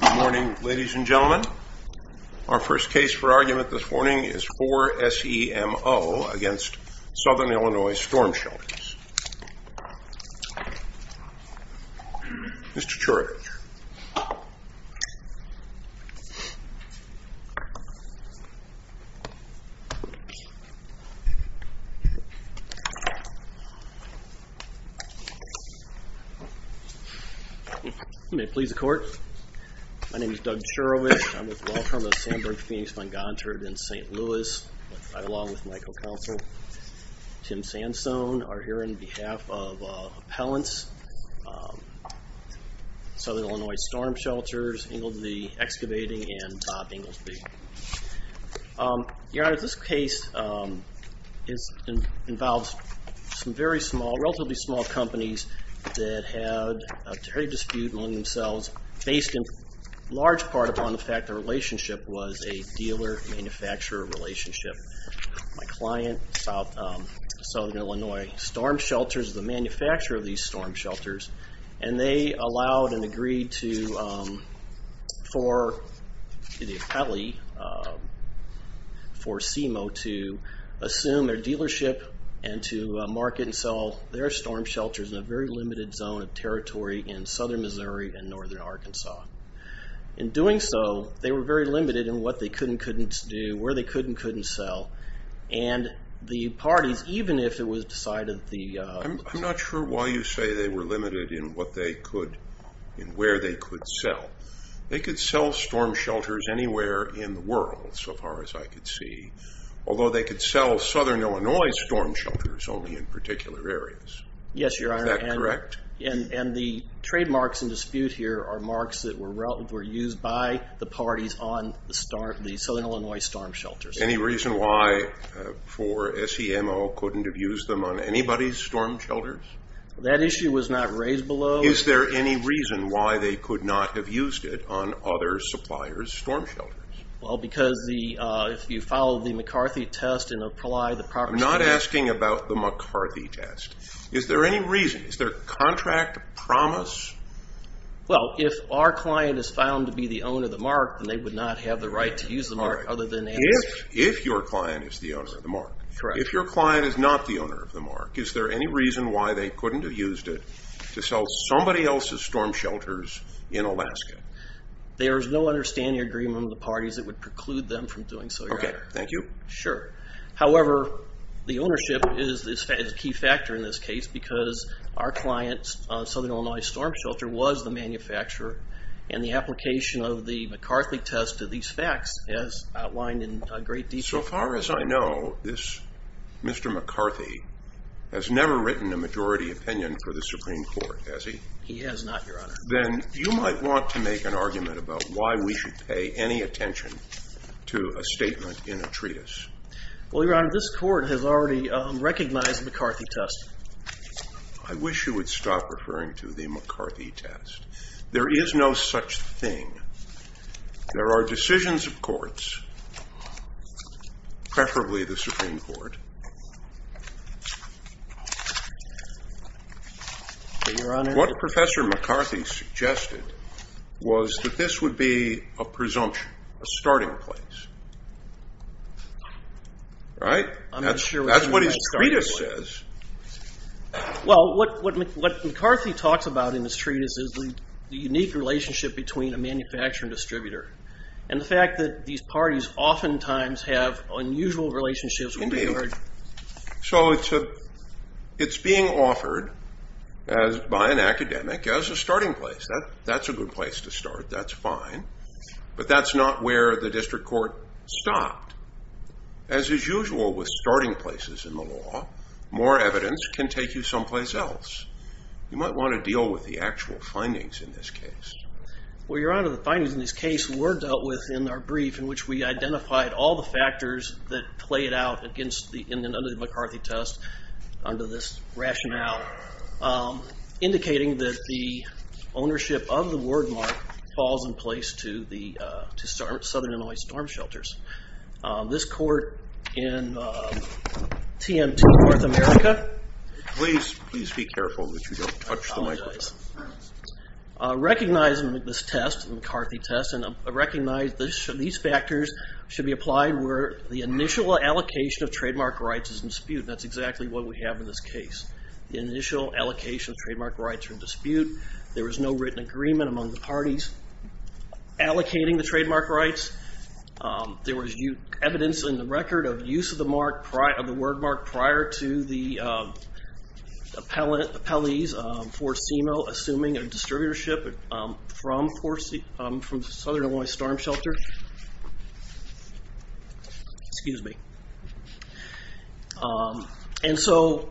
Good morning, ladies and gentlemen. Our first case for argument this morning is 4SEMO against Southern Illinois Storm Shelter. Mr. Churich. May it please the court, my name is Doug Churich, I'm with the law firm of Sandburg Phoenix, Montgomery and St. Louis, I, along with my co-counsel, Tim Sansone, are here on behalf of Southern Illinois Storm Shelters, Englesby Excavating, and Bob Englesby. Your Honor, this case involves some very small, relatively small companies that had a very dispute among themselves, based in large part upon the fact the relationship was a dealer-manufacturer relationship. My client, Southern Illinois Storm Shelters, the manufacturer of these storm shelters agreed for the appellee, 4SEMO, to assume their dealership and to market and sell their storm shelters in a very limited zone of territory in Southern Missouri and Northern Arkansas. In doing so, they were very limited in what they could and couldn't do, where they could and couldn't sell, and the parties, even if it was decided that the... I'm not sure why you say they were limited in what they could, in where they could sell. They could sell storm shelters anywhere in the world, so far as I could see, although they could sell Southern Illinois Storm Shelters only in particular areas. Yes, Your Honor. Is that correct? And the trademarks in dispute here are marks that were used by the parties on the Southern Illinois Storm Shelters. Any reason why 4SEMO couldn't have used them on anybody's storm shelters? That issue was not raised below... Is there any reason why they could not have used it on other suppliers' storm shelters? Well, because if you follow the McCarthy test and apply the proper... I'm not asking about the McCarthy test. Is there any reason? Is there contract promise? Well, if our client is found to be the owner of the mark, then they would not have the right to use the mark other than... If your client is the owner of the mark. Correct. If your client is not the owner of the mark, is there any reason why they couldn't have used it on somebody else's storm shelters in Alaska? There's no understanding agreement with the parties that would preclude them from doing so, Your Honor. Okay. Thank you. Sure. However, the ownership is a key factor in this case because our client's Southern Illinois Storm Shelter was the manufacturer and the application of the McCarthy test to these facts is outlined in great detail. So far as I know, this Mr. McCarthy has never written a majority opinion for the Supreme Court, has he? He has not, Your Honor. Then you might want to make an argument about why we should pay any attention to a statement in a treatise. Well, Your Honor, this court has already recognized the McCarthy test. I wish you would stop referring to the McCarthy test. There is no such thing. There are decisions of courts, preferably the Supreme Court. What Professor McCarthy suggested was that this would be a presumption, a starting place, right? That's what his treatise says. Well, what McCarthy talks about in his treatise is the unique relationship between a manufacturer and distributor, and the fact that these parties oftentimes have unusual relationships with each other. So it's being offered by an academic as a starting place. That's a good place to start. That's fine. But that's not where the district court stopped. As is usual with starting places in the law, more evidence can take you someplace else. You might want to deal with the actual findings in this case. Well, Your Honor, the findings in this case were dealt with in our brief in which we identified all the factors that play it out against the McCarthy test under this rationale, indicating that the ownership of the wardmark falls in place to Southern Illinois Storm Shelters. This court in TMT North America... Please, please be careful that you don't touch the microphone. Recognizing this test, McCarthy test, and recognize these factors should be applied where the initial allocation of trademark rights is in dispute. That's exactly what we have in this case. The initial allocation of trademark rights are in dispute. There was no written agreement among the parties allocating the trademark rights. There was evidence in the record of use of the wordmark prior to the appellees for CMO assuming a distributorship from Southern Illinois Storm Shelter. Excuse me. And so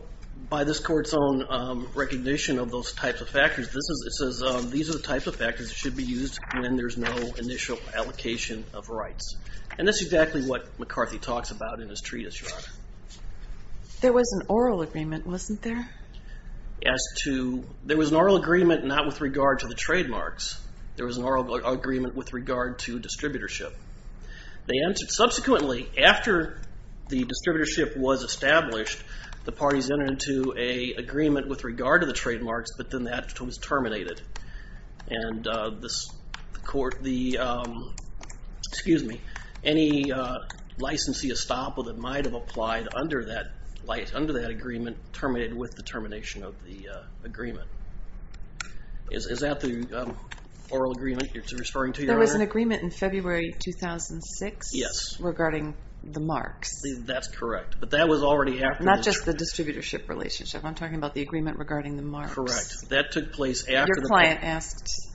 by this court's own recognition of those types of factors, it says these are the types of factors that should be used when there's no initial allocation of rights. And that's exactly what McCarthy talks about in his treatise, Your Honor. There was an oral agreement, wasn't there? As to... There was an oral agreement not with regard to the trademarks. There was an oral agreement with regard to distributorship. Subsequently, after the distributorship was established, the parties entered into an agreement with regard to the trademarks, but then that was terminated. And this court, the... Excuse me. Any licensee estoppel that might have applied under that agreement terminated with the termination of the agreement. Is that the oral agreement you're referring to, Your Honor? There was an agreement in February 2006 regarding the marks. That's correct, but that was already after... Not just the distributorship relationship. I'm talking about the agreement regarding the marks. Correct. That took place after... Your client asked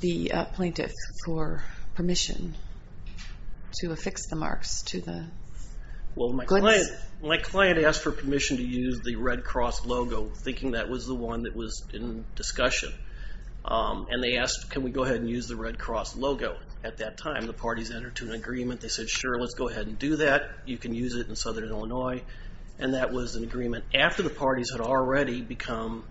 the plaintiff for permission to affix the marks to the... Well, my client asked for permission to use the Red Cross logo, thinking that was the one that was in discussion. And they asked, can we go ahead and use the Red Cross logo? At that time, the parties entered into an agreement. They said, sure, let's go ahead and do that. You can use it in Southern Illinois. And that was an agreement after the parties had already become...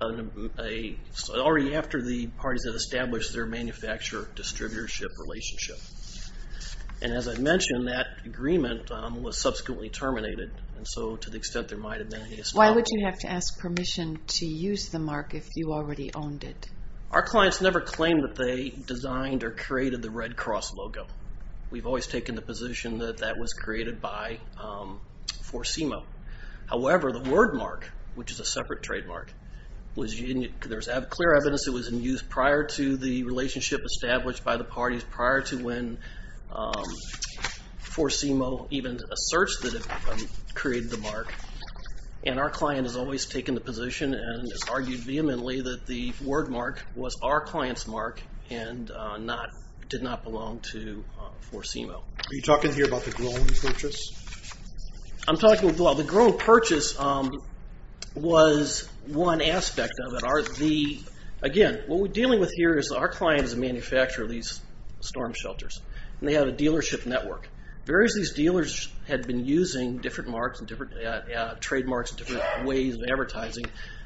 Already after the parties had established their manufacturer-distributorship relationship. And as I mentioned, that agreement was subsequently terminated. And so, to the extent there might have been... Why would you have to ask permission to use the mark if you already owned it? Our clients never claimed that they designed or created the Red Cross logo. We've always taken the position that that was created by For CIMO. However, the word mark, which is a separate trademark, there's clear evidence it was in use prior to the relationship established by the parties, prior to when For CIMO even asserts that it created the mark. And our client has always taken the position and has argued vehemently that the word mark was our client's mark and did not belong to For CIMO. Are you talking here about the grown purchase? I'm talking... Well, the grown purchase was one aspect of it. Again, what we're dealing with here is our client is a manufacturer of these storm shelters. And they have a dealership network. Various of these dealers had been using different marks and different trademarks and different ways of advertising.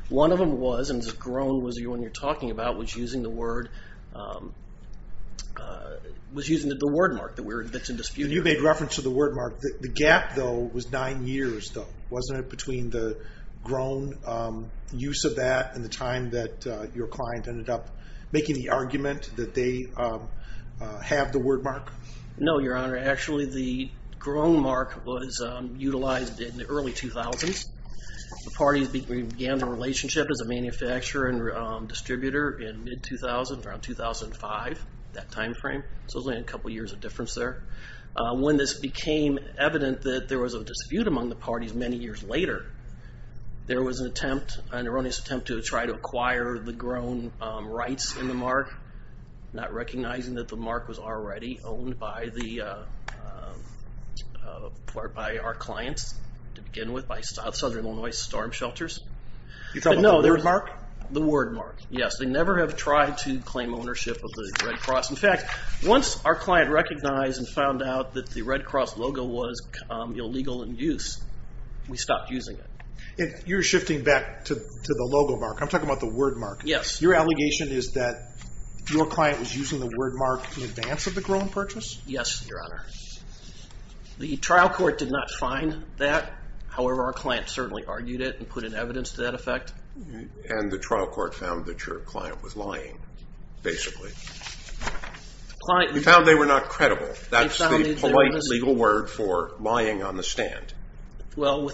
One of them was, and this is grown, was the one you're talking about, was using the word mark that's in dispute. You made reference to the word mark. The gap, though, was nine years, though. Wasn't it between the grown use of that and the time that your client ended up making the argument that they have the word mark? No, Your Honor. Actually, the grown mark was utilized in the early 2000s. The parties began the relationship as a manufacturer and distributor in mid-2000, around 2005, that time frame. So it was only a couple years of difference there. When this became evident that there was a dispute among the parties many years later, there was an attempt, an erroneous attempt, to try to acquire the grown rights in the mark, not recognizing that the mark was already owned by our clients to begin with, by Southern Illinois Storm Shelters. You're talking about the word mark? The word mark, yes. They never have tried to claim ownership of the Red Cross. In fact, once our client recognized and found out that the Red Cross logo was illegal in use, we stopped using it. You're shifting back to the logo mark. I'm talking about the word mark. Your allegation is that your client was using the word mark in advance of the grown purchase? Yes, Your Honor. The trial court did not find that. However, our client certainly argued it and put in evidence to that effect. And the trial court found that your client was lying, basically. We found they were not credible. That's the polite legal word for lying on the stand. Well,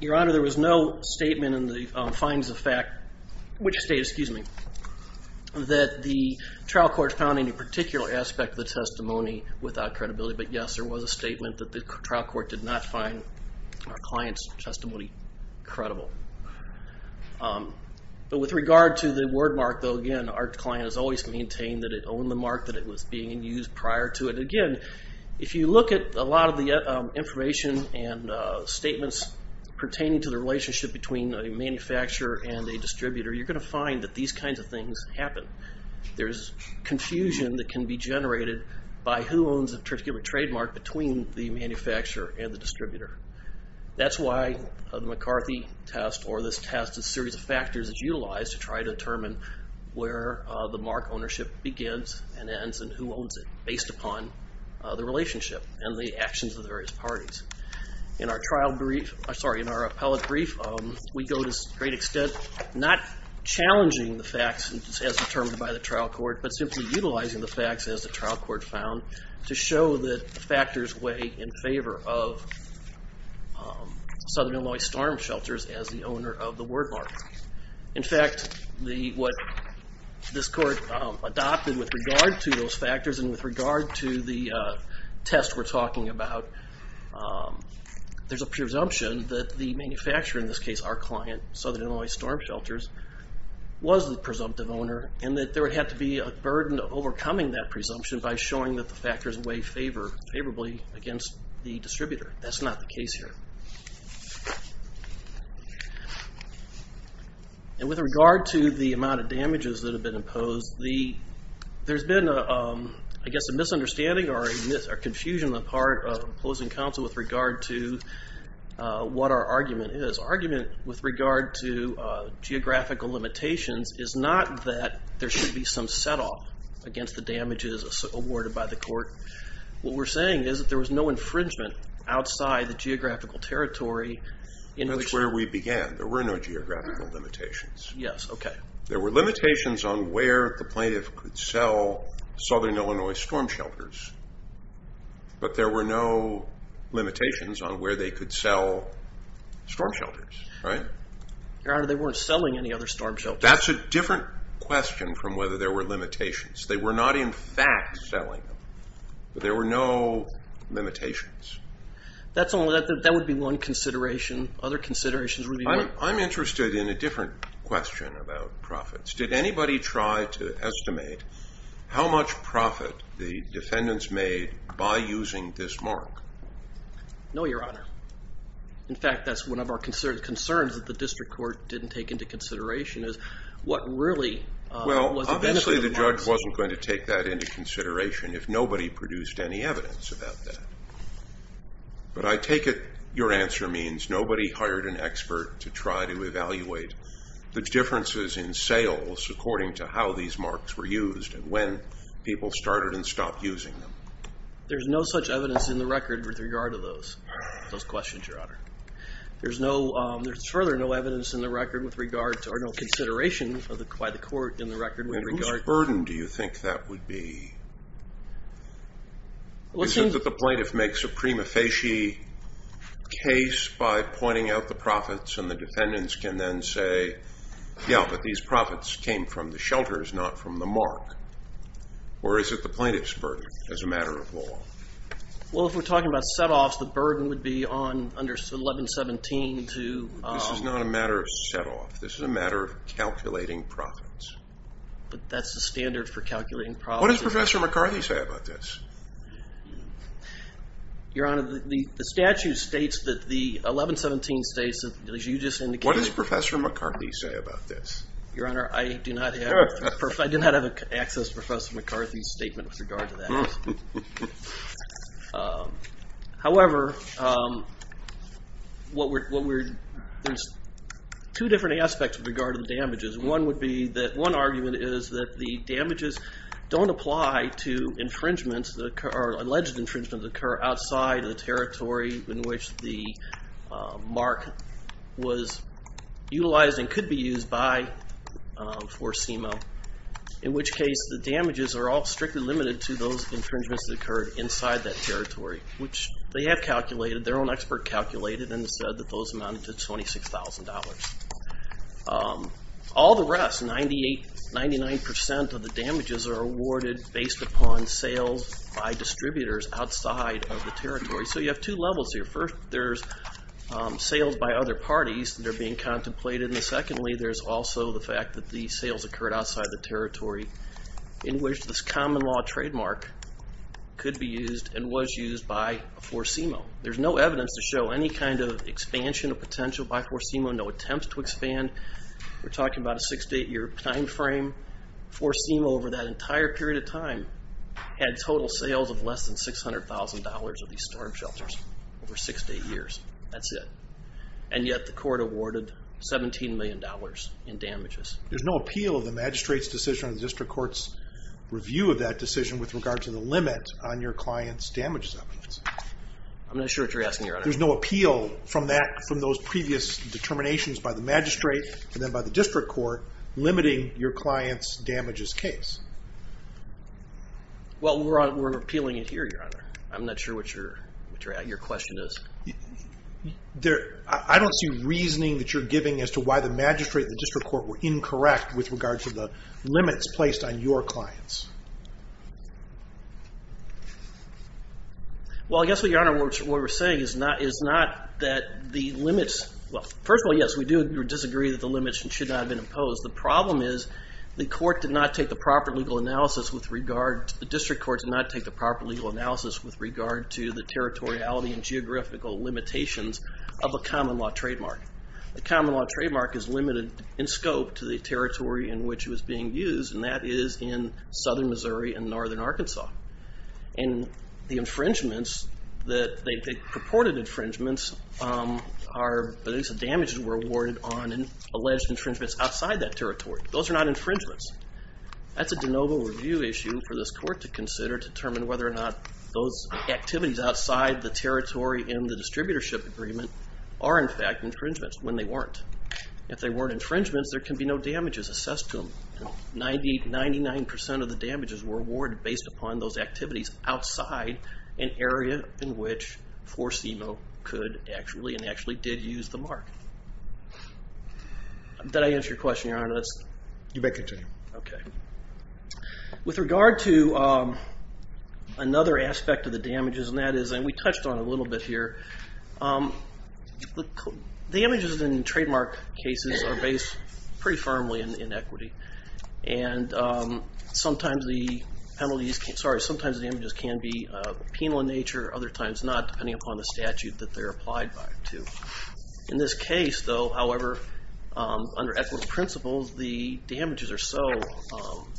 Your Honor, there was no statement that the trial court found any particular aspect of the testimony without credibility. But yes, there was a statement that the trial court did not find our client's testimony credible. But with regard to the word mark, though, again, our client has always maintained that it owned the mark that it was being used prior to it. Again, if you look at a lot of the information and statements pertaining to the relationship between a manufacturer and a distributor, you're going to find that these kinds of things happen. There's confusion that can be generated by who owns a particular trademark between the manufacturer and the distributor. That's why the McCarthy test or this test, a series of factors is utilized to try to determine where the mark ownership begins and ends and who owns it, based upon the relationship and the actions of the various parties. In our trial brief, sorry, in our appellate brief, we go to a great extent not challenging the facts as determined by the trial court, but simply utilizing the facts as the trial court found to show that factors weigh in favor of Southern Illinois Storm Shelters as the owner of the word mark. In fact, what this court adopted with regard to those factors and with regard to the test we're talking about, there's a presumption that the manufacturer, in this case, our client, Southern Illinois Storm Shelters, was the presumptive owner and that there would have to be a burden of overcoming that presumption by showing that the factors weigh favorably against the distributor. That's not the case here. With regard to the amount of damages that have been imposed, there's been, I guess, a misunderstanding or confusion on the part of the opposing counsel with regard to what our argument is. Our argument with regard to geographical limitations is not that there should be some set off against the damages awarded by the court. What we're saying is that there was no infringement outside the geographical territory. That's where we began. There were no geographical limitations. There were limitations on where the plaintiff could sell Southern Illinois Storm Shelters, but there were no limitations on where they could sell Storm Shelters. Your Honor, they weren't selling any other Storm Shelters. That's a different question from whether there were limitations. They were not, in fact, selling them. There were no limitations. That would be one consideration. I'm interested in a different question about profits. Did anybody try to estimate how much profit the defendants made by using this mark? No, Your Honor. In fact, that's one of our concerns that the district court didn't take into consideration. Obviously, the judge wasn't going to take that into consideration if nobody produced any evidence about that. But I take it your answer means nobody hired an expert to try to evaluate the differences in sales according to how these marks were used and when people started and stopped using them. There's no such evidence in the record with regard to those questions, Your Honor. There's further no evidence in the record or no consideration by the court in the record in regard to... Whose burden do you think that would be? Is it that the plaintiff makes a prima facie case by pointing out the profits and the defendants can then say, yeah, but these profits came from the shelters, not from the mark? Or is it the plaintiff's burden as a matter of law? Well, if we're talking about set-offs, the burden would be on under 1117 to... This is not a matter of set-off. This is a matter of calculating profits. But that's the standard for calculating profits. What does Professor McCarthy say about this? Your Honor, the statute states that the 1117 states that as you just indicated... What does Professor McCarthy say about this? Your Honor, I do not have access to Professor McCarthy's statement with regard to that. However, there's two different aspects with regard to the damages. One argument is that the damages don't apply to infringements or alleged infringements that occur outside the territory in which the mark was utilized and could be used for SEMO. In which case, the damages are all strictly limited to those infringements that occurred inside that territory, which they have calculated. Their own expert calculated and said that those amounted to $26,000. All the rest, 99% of the damages are awarded based upon sales by distributors outside of the territory. So you have two levels here. First, there's sales by other parties that are being contemplated. And secondly, there's also the fact that the sales occurred outside the territory in which this common law trademark could be used and was used for SEMO. There's no evidence to show any kind of expansion of potential by For SEMO, no attempts to expand. We're talking about a 6-8 year time frame. For SEMO over that entire period of time had total sales of less than $600,000 of these storm shelters over 6-8 years. That's it. And yet the court awarded $17 million in damages. There's no appeal of the magistrate's decision or the district court's review of that decision with regard to the limit on your client's damages evidence. There's no appeal from those previous determinations by the magistrate and then by the district court limiting your client's damages case. Well, we're appealing it here, Your Honor. I'm not sure what your question is. I don't see reasoning that you're giving as to why the magistrate and the district court were incorrect with regard to the limits placed on your clients. Well, I guess, Your Honor, what we're saying is not that the limits, first of all, yes, we do disagree that the limits should not have been imposed. The problem is the court did not take the proper legal analysis with regard, the district court did not take the proper legal analysis with regard to the territoriality and geographical limitations of a common law trademark. A common law trademark is limited in scope to the southern Missouri and northern Arkansas. And the infringements, the purported infringements are, at least the damages were awarded on alleged infringements outside that territory. Those are not infringements. That's a de novo review issue for this court to consider to determine whether or not those activities outside the territory in the distributorship agreement are, in fact, infringements when they weren't. If they weren't infringements, there can be no damages assessed to them. Ninety-nine percent of the damages were awarded based upon those activities outside an area in which Forcimo could actually and actually did use the mark. Did I answer your question, Your Honor? You may continue. With regard to another aspect of the damages, and that is, and we touched on it a little bit here, the damages in very firmly in equity and sometimes the penalties, sorry, sometimes the damages can be penal in nature, other times not, depending upon the statute that they're applied by to. In this case, though, however, under equitable principles, the damages are so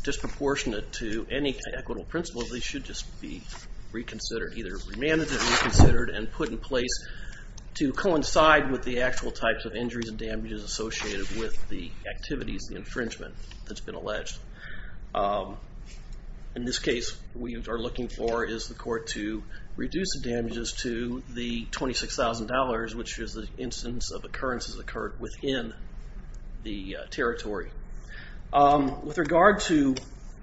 disproportionate to any equitable principles, they should just be reconsidered, either remanded or reconsidered and put in place to coincide with the actual types of injuries and damages associated with the activities infringement that's been alleged. In this case, what we are looking for is the court to reduce the damages to the $26,000, which is the instance of occurrences that occurred within the territory. With regard to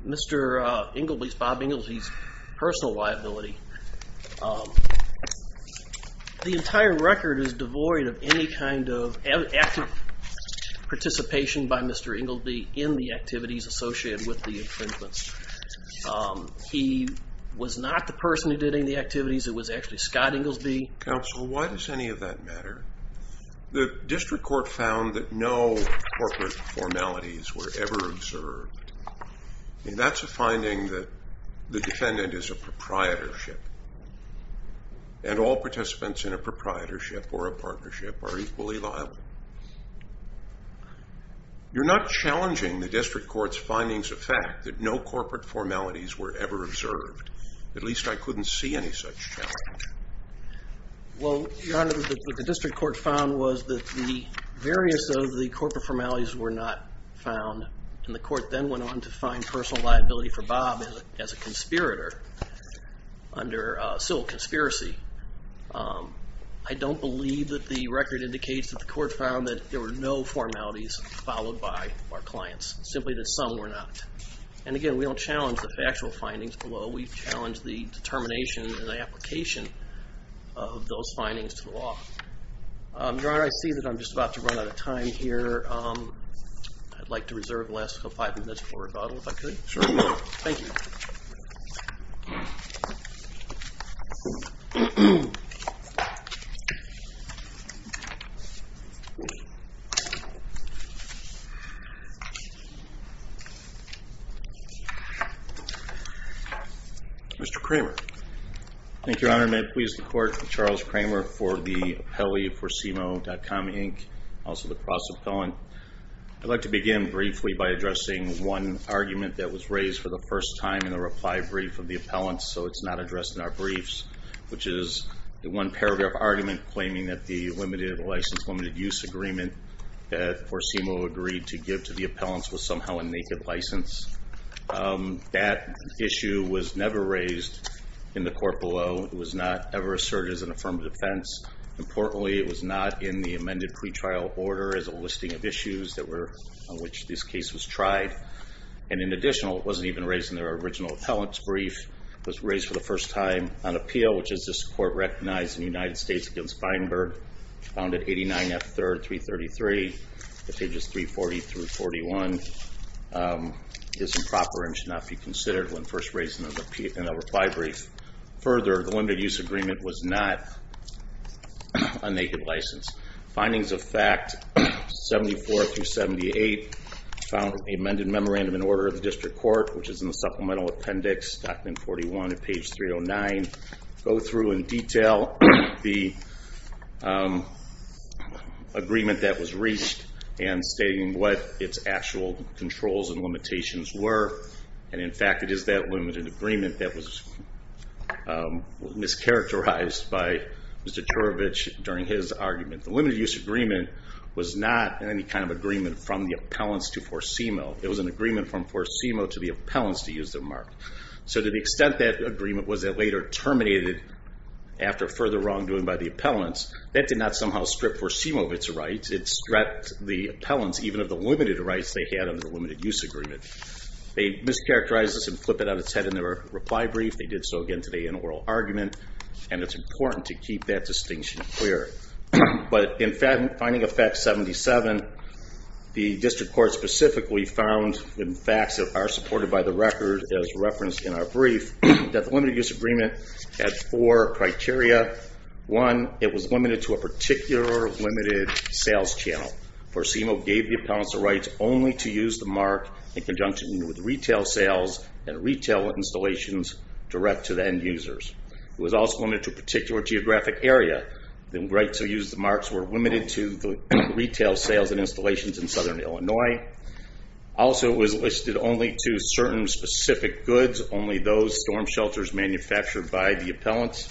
Mr. Ingleby's, Bob Ingleby's, personal liability, the entire record is devoid of any kind of active participation by Mr. Ingleby in the activities associated with the infringements. He was not the person who did any of the activities, it was actually Scott Ingleby. Counsel, why does any of that matter? The district court found that no corporate formalities were ever observed. That's a finding that the defendant is a proprietorship and all participants in a proprietorship or a partnership are equally liable. You're not challenging the district court's findings of fact that no corporate formalities were ever observed. At least I couldn't see any such challenge. Well, Your Honor, what the district court found was that the various of the corporate formalities were not found and the court then went on to find personal liability for Bob as a conspirator under civil conspiracy. I don't believe that the record indicates that the court found that there were no formalities followed by our clients. Simply that some were not. And again, we don't challenge the factual findings below, we challenge the determination and the application of those findings to the law. Your Honor, I see that I'm just about to run out of time here. I'd like to reserve the last five minutes for rebuttal if I could. Sure. Thank you. Mr. Kramer. Thank you, Your Honor. May it please the court that Charles Kramer for the process appellant. I'd like to begin briefly by addressing one argument that was raised for the first time in the reply brief of the appellant, so it's not addressed in our briefs which is the one paragraph argument claiming that the limited license, limited use agreement that Corsimo agreed to give to the appellants was somehow a naked license. That issue was never raised in the court below. It was not ever asserted as an affirmative offense. Importantly, it was not in the amended pretrial order as a listing of issues on which this case was tried. And in addition, it wasn't even raised in their original appellant's brief. It was raised for the first time on appeal, which is this court recognized in the United States against Feinberg, found at 89 F. 3rd, 333 pages 340 through 41 is improper and should not be considered when first raised in a reply brief. Further, the limited use agreement was not a naked license. Findings of fact 74 through 78 found in the amended memorandum in order of the District Court which is in the supplemental appendix, document 41 at page 309 go through in detail the agreement that was reached and stating what its actual controls and limitations were and in fact it is that limited agreement that was mischaracterized by Mr. Juravich during his argument. The limited use agreement was not any kind of agreement from the appellants to Forcimo. It was an agreement from Forcimo to the appellants to use their mark. So to the extent that agreement was later terminated after further wrongdoing by the appellants, that did not somehow strip Forcimo of its rights. It stripped the appellants even of the limited rights they had under the limited use agreement. They mischaracterized this and flipped it out of its head in their reply brief. They did so again today in oral argument and it's important to keep that distinction clear. But in finding of fact 77, the District Court specifically found in facts that are supported by the record as referenced in our brief that the limited use agreement had four criteria. One, it was limited to a particular limited sales channel. Forcimo gave the appellants the rights only to use the mark in conjunction with retail sales and retail installations direct to the end users. It was also limited to a particular geographic area. The rights to use the marks were limited to retail sales and installations in southern Illinois. Also it was listed only to certain specific goods, only those storm shelters manufactured by the appellants.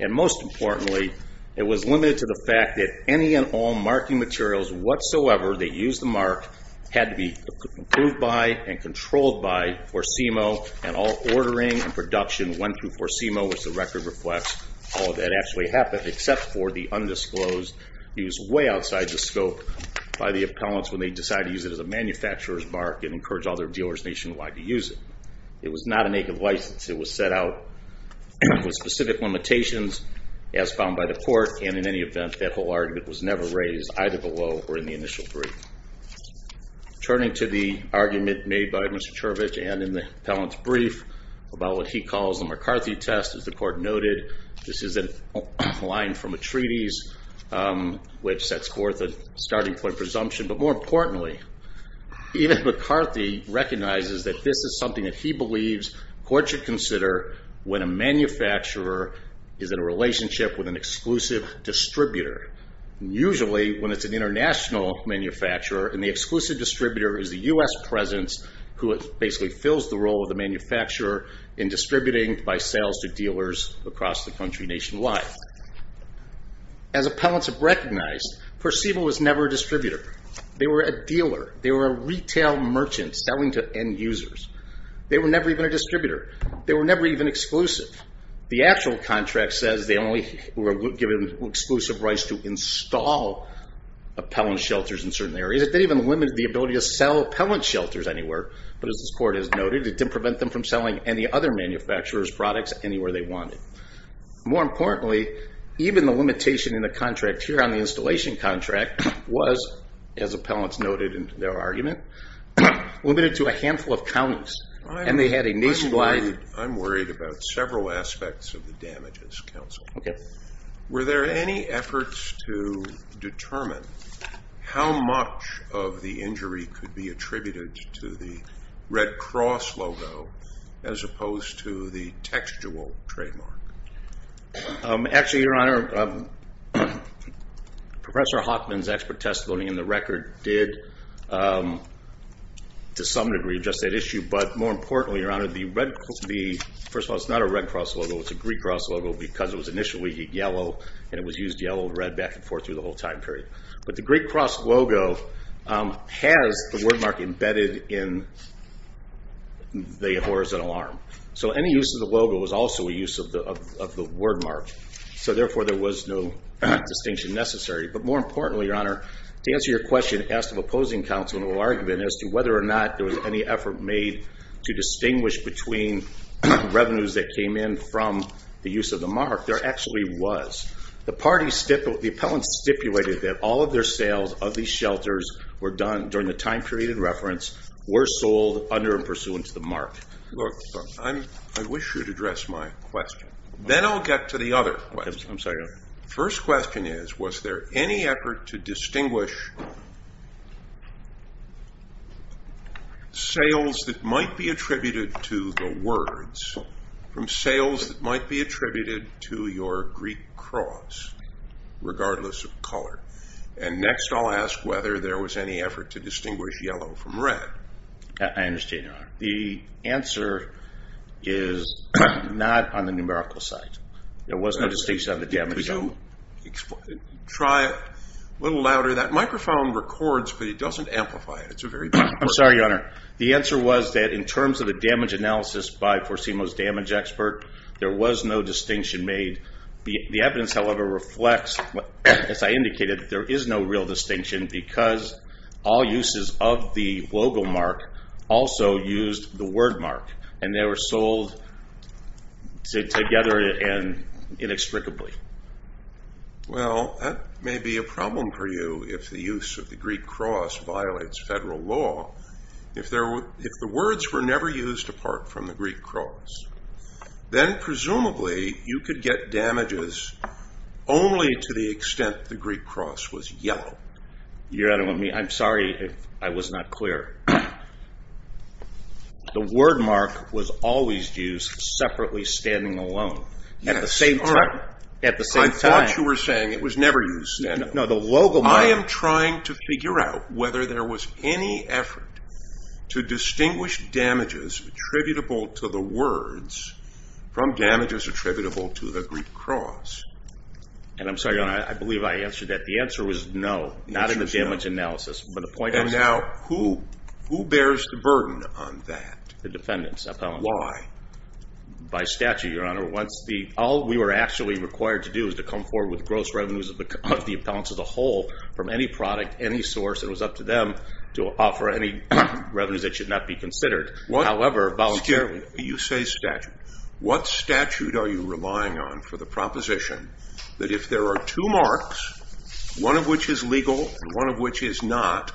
And most importantly it was limited to the fact that any and all marking materials whatsoever that used the mark had to be approved by and controlled by Forcimo and all ordering and production went through Forcimo which the record reflects all that actually happened except for the undisclosed use way outside the scope by the appellants when they decided to use it as a manufacturer's mark and encourage all their dealers nationwide to use it. It was not a naked license. It was set out with specific limitations as found by the court and in any event that whole argument was never raised either below or in the initial brief. Turning to the argument made by Mr. Cherovich and in the appellant's brief about what he calls the McCarthy test as the court noted, this is a line from a treaties which sets forth a starting point presumption but more importantly even McCarthy recognizes that this is something that he is in a relationship with an exclusive distributor. Usually when it's an international manufacturer and the exclusive distributor is the US presence who basically fills the role of the manufacturer in distributing by sales to dealers across the country nationwide. As appellants have recognized, Forcimo was never a distributor. They were a dealer. They were a retail merchant selling to end users. They were never even a distributor. They were never even exclusive. The actual contract says they were only given exclusive rights to install appellant shelters in certain areas. It didn't even limit the ability to sell appellant shelters anywhere but as this court has noted, it didn't prevent them from selling any other manufacturer's products anywhere they wanted. More importantly, even the limitation in the contract here on the installation contract was as appellants noted in their argument, limited to a handful of counties and they had a nationwide I'm worried about several aspects of the damages counsel. Were there any efforts to determine how much of the injury could be attributed to the Red Cross logo as opposed to the textual trademark? Actually your honor, Professor Hoffman's expert testimony in the record did to some degree address that issue but more importantly your honor, first of all it's not a Red Cross logo, it's a Greek Cross logo because it was initially yellow and it was used yellow and red back and forth through the whole time period. But the Greek Cross logo has the wordmark embedded in the horizontal arm. So any use of the logo was also a use of the wordmark. So therefore there was no distinction necessary. But more importantly your honor, to answer your question asked of opposing counsel in an argument as to whether or not there was any effort made to distinguish between revenues that came in from the use of the mark there actually was. The party stipulated that all of their sales of these shelters were done during the time period in reference, were sold under and pursuant to the mark. I wish you'd address my question. Then I'll get to the other questions. First question is, was there any effort to distinguish sales that might be attributed to the words from sales that might be attributed to your Greek Cross, regardless of color. And next I'll ask whether there was any effort to distinguish yellow from red. I understand your honor. The answer is not on the numerical side. There was no distinction on the damage. Try it a little louder. That microphone records but it doesn't amplify it. I'm sorry your honor. The answer was that in terms of the damage analysis by Forcimo's damage expert, there was no distinction made. The evidence however reflects, as I indicated there is no real distinction because all uses of the logo mark also used the word mark and they were sold together and inextricably. Well, that may be a problem for you if the use of the Greek Cross violates federal law. If the words were never used apart from the Greek Cross then presumably you could get damages only to the extent the Greek Cross was yellow. Your honor, I'm sorry if I was not clear. The word mark was always used separately standing alone at the same time. I thought you were saying it was never used. I am trying to figure out whether there was any effort to distinguish damages attributable to the words from damages attributable to the Greek Cross. And I'm sorry your honor, I believe I answered that. The answer was no, not in the damage analysis. And now who bears the burden on that? The defendant's appellant. Why? By statute your honor. All we were actually required to do was to come forward with gross revenues of the appellant as a whole from any product, any source. It was up to them to offer any revenues that should not be considered. However, voluntarily. You say statute. What statute are you relying on for the proposition that if there are two marks, one of which is legal and one of which is not,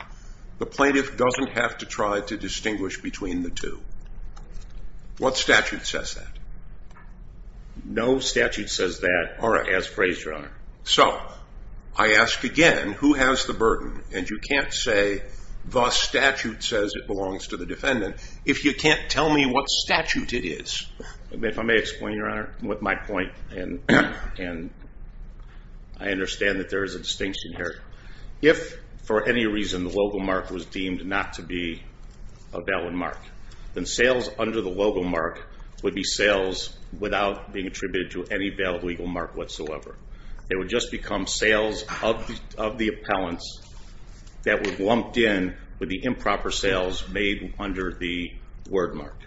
the plaintiff doesn't have to try to distinguish between the two? What statute says that? No statute says that as phrased your honor. So, I ask again, who has the burden? And you can't say the statute says it belongs to the defendant if you can't tell me what statute it is. If I may explain your honor with my point and I understand that there is a distinction here. If for any reason the logo mark was deemed not to be a valid mark, then sales under the logo mark would be sales without being attributed to any valid legal mark whatsoever. They would just become sales of the appellant's that would be lumped in with the improper sales made under the word mark.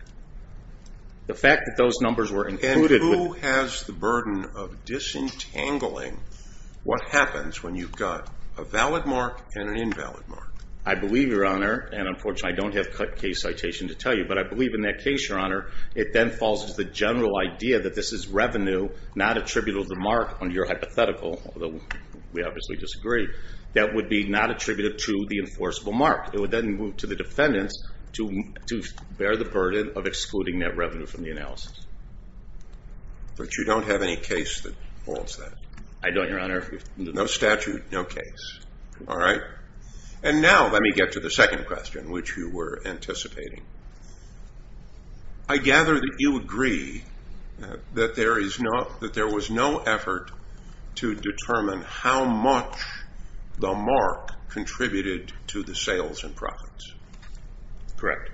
And who has the burden of disentangling what happens when you've got a valid mark and an invalid mark? I believe your honor, and unfortunately I don't have cut case citation to tell you, but I believe in that case your honor it then falls to the general idea that this is revenue not attributable to the mark under your hypothetical although we obviously disagree, that would be not attributable to the enforceable mark. It would then move to the defendant to bear the burden of excluding that revenue from the analysis. But you don't have any case that holds that? I don't your honor. No statute, no case. Alright. And now let me get to the second question, which you were anticipating. I gather that you agree that there was no effort to determine how much the mark contributed to the sales and profits. Correct.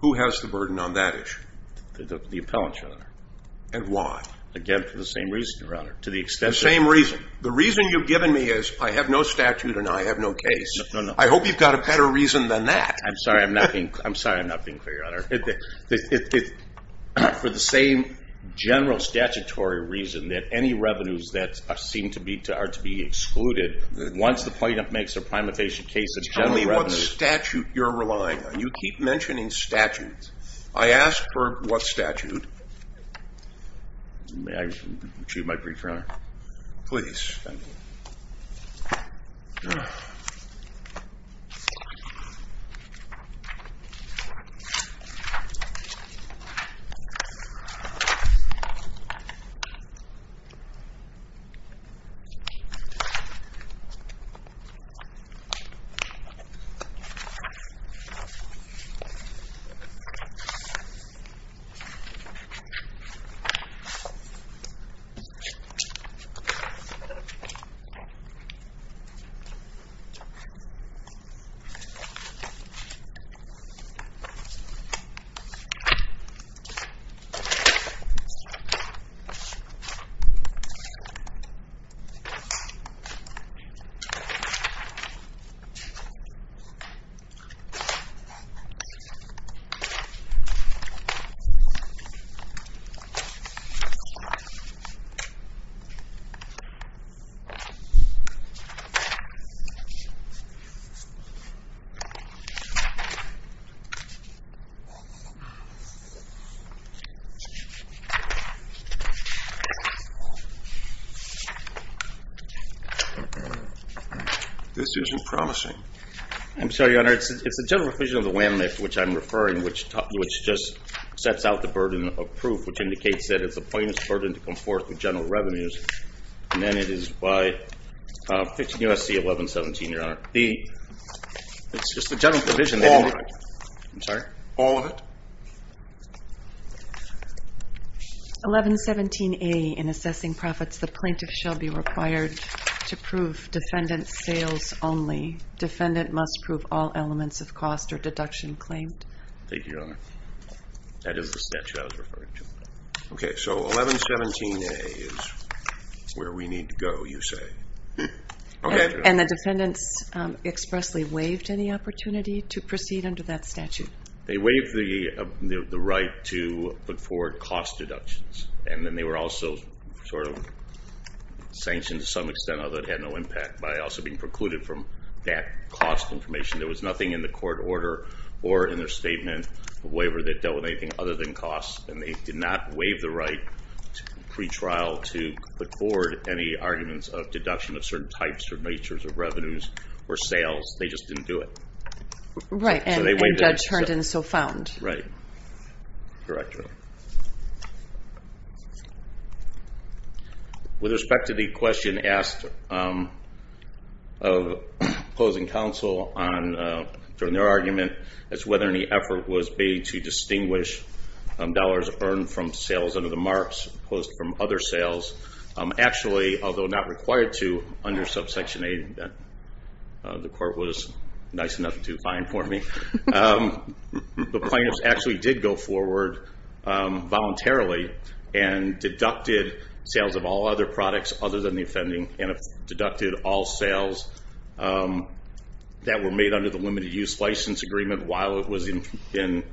Who has the burden on that issue? The appellant your honor. And why? Again for the same reason your honor, to the extent... The same reason. The reason you've given me is I have no statute and I have no case. I hope you've got a better reason than that. I'm sorry I'm not being I'm sorry I'm not being clear your honor. For the same general statutory reason that any revenues that seem to be are to be excluded once the plaintiff makes their prime evasion case. Tell me what statute you're relying on. You keep mentioning statute. I ask for what statute? May I retrieve my brief your honor? Please. Thank you. Thank you. Thank you. This isn't promising. I'm sorry your honor, it's the general provision of the WAMLIFT which I'm referring which just sets out the burden of proof which indicates that it's the plaintiff's burden to come forth with general revenues and then it is by 15 U.S.C. 1117 your honor. It's just the general provision. All of it? All of it? 1117A in assessing profits the plaintiff shall be required to prove defendant sales only. Defendant must prove all elements of cost or deduction claimed. Thank you your honor. That is the statute I was referring to. Okay so 1117A is where we need to go you say? And the defendants expressly waived any opportunity to proceed under that statute? They waived the right to put forward cost deductions and then they were also sort of sanctioned to some extent although it had no impact by also being precluded from that cost information. There was nothing in the court order or in their statement of waiver that dealt with anything other than cost and they did not waive the right to pretrial to put forward any arguments of deduction of certain types or natures of revenues or sales. They just didn't do it. Right and the judge turned and so found. Right. With respect to the question asked of opposing counsel during their argument as to whether any effort was made to distinguish dollars earned from sales under the marks opposed from other sales actually although not required to under subsection 8 the court was nice enough to find for me. The plaintiffs actually did go forward voluntarily and deducted sales of all other products other than the offending and deducted all sales that were made under the limited use license agreement while it was in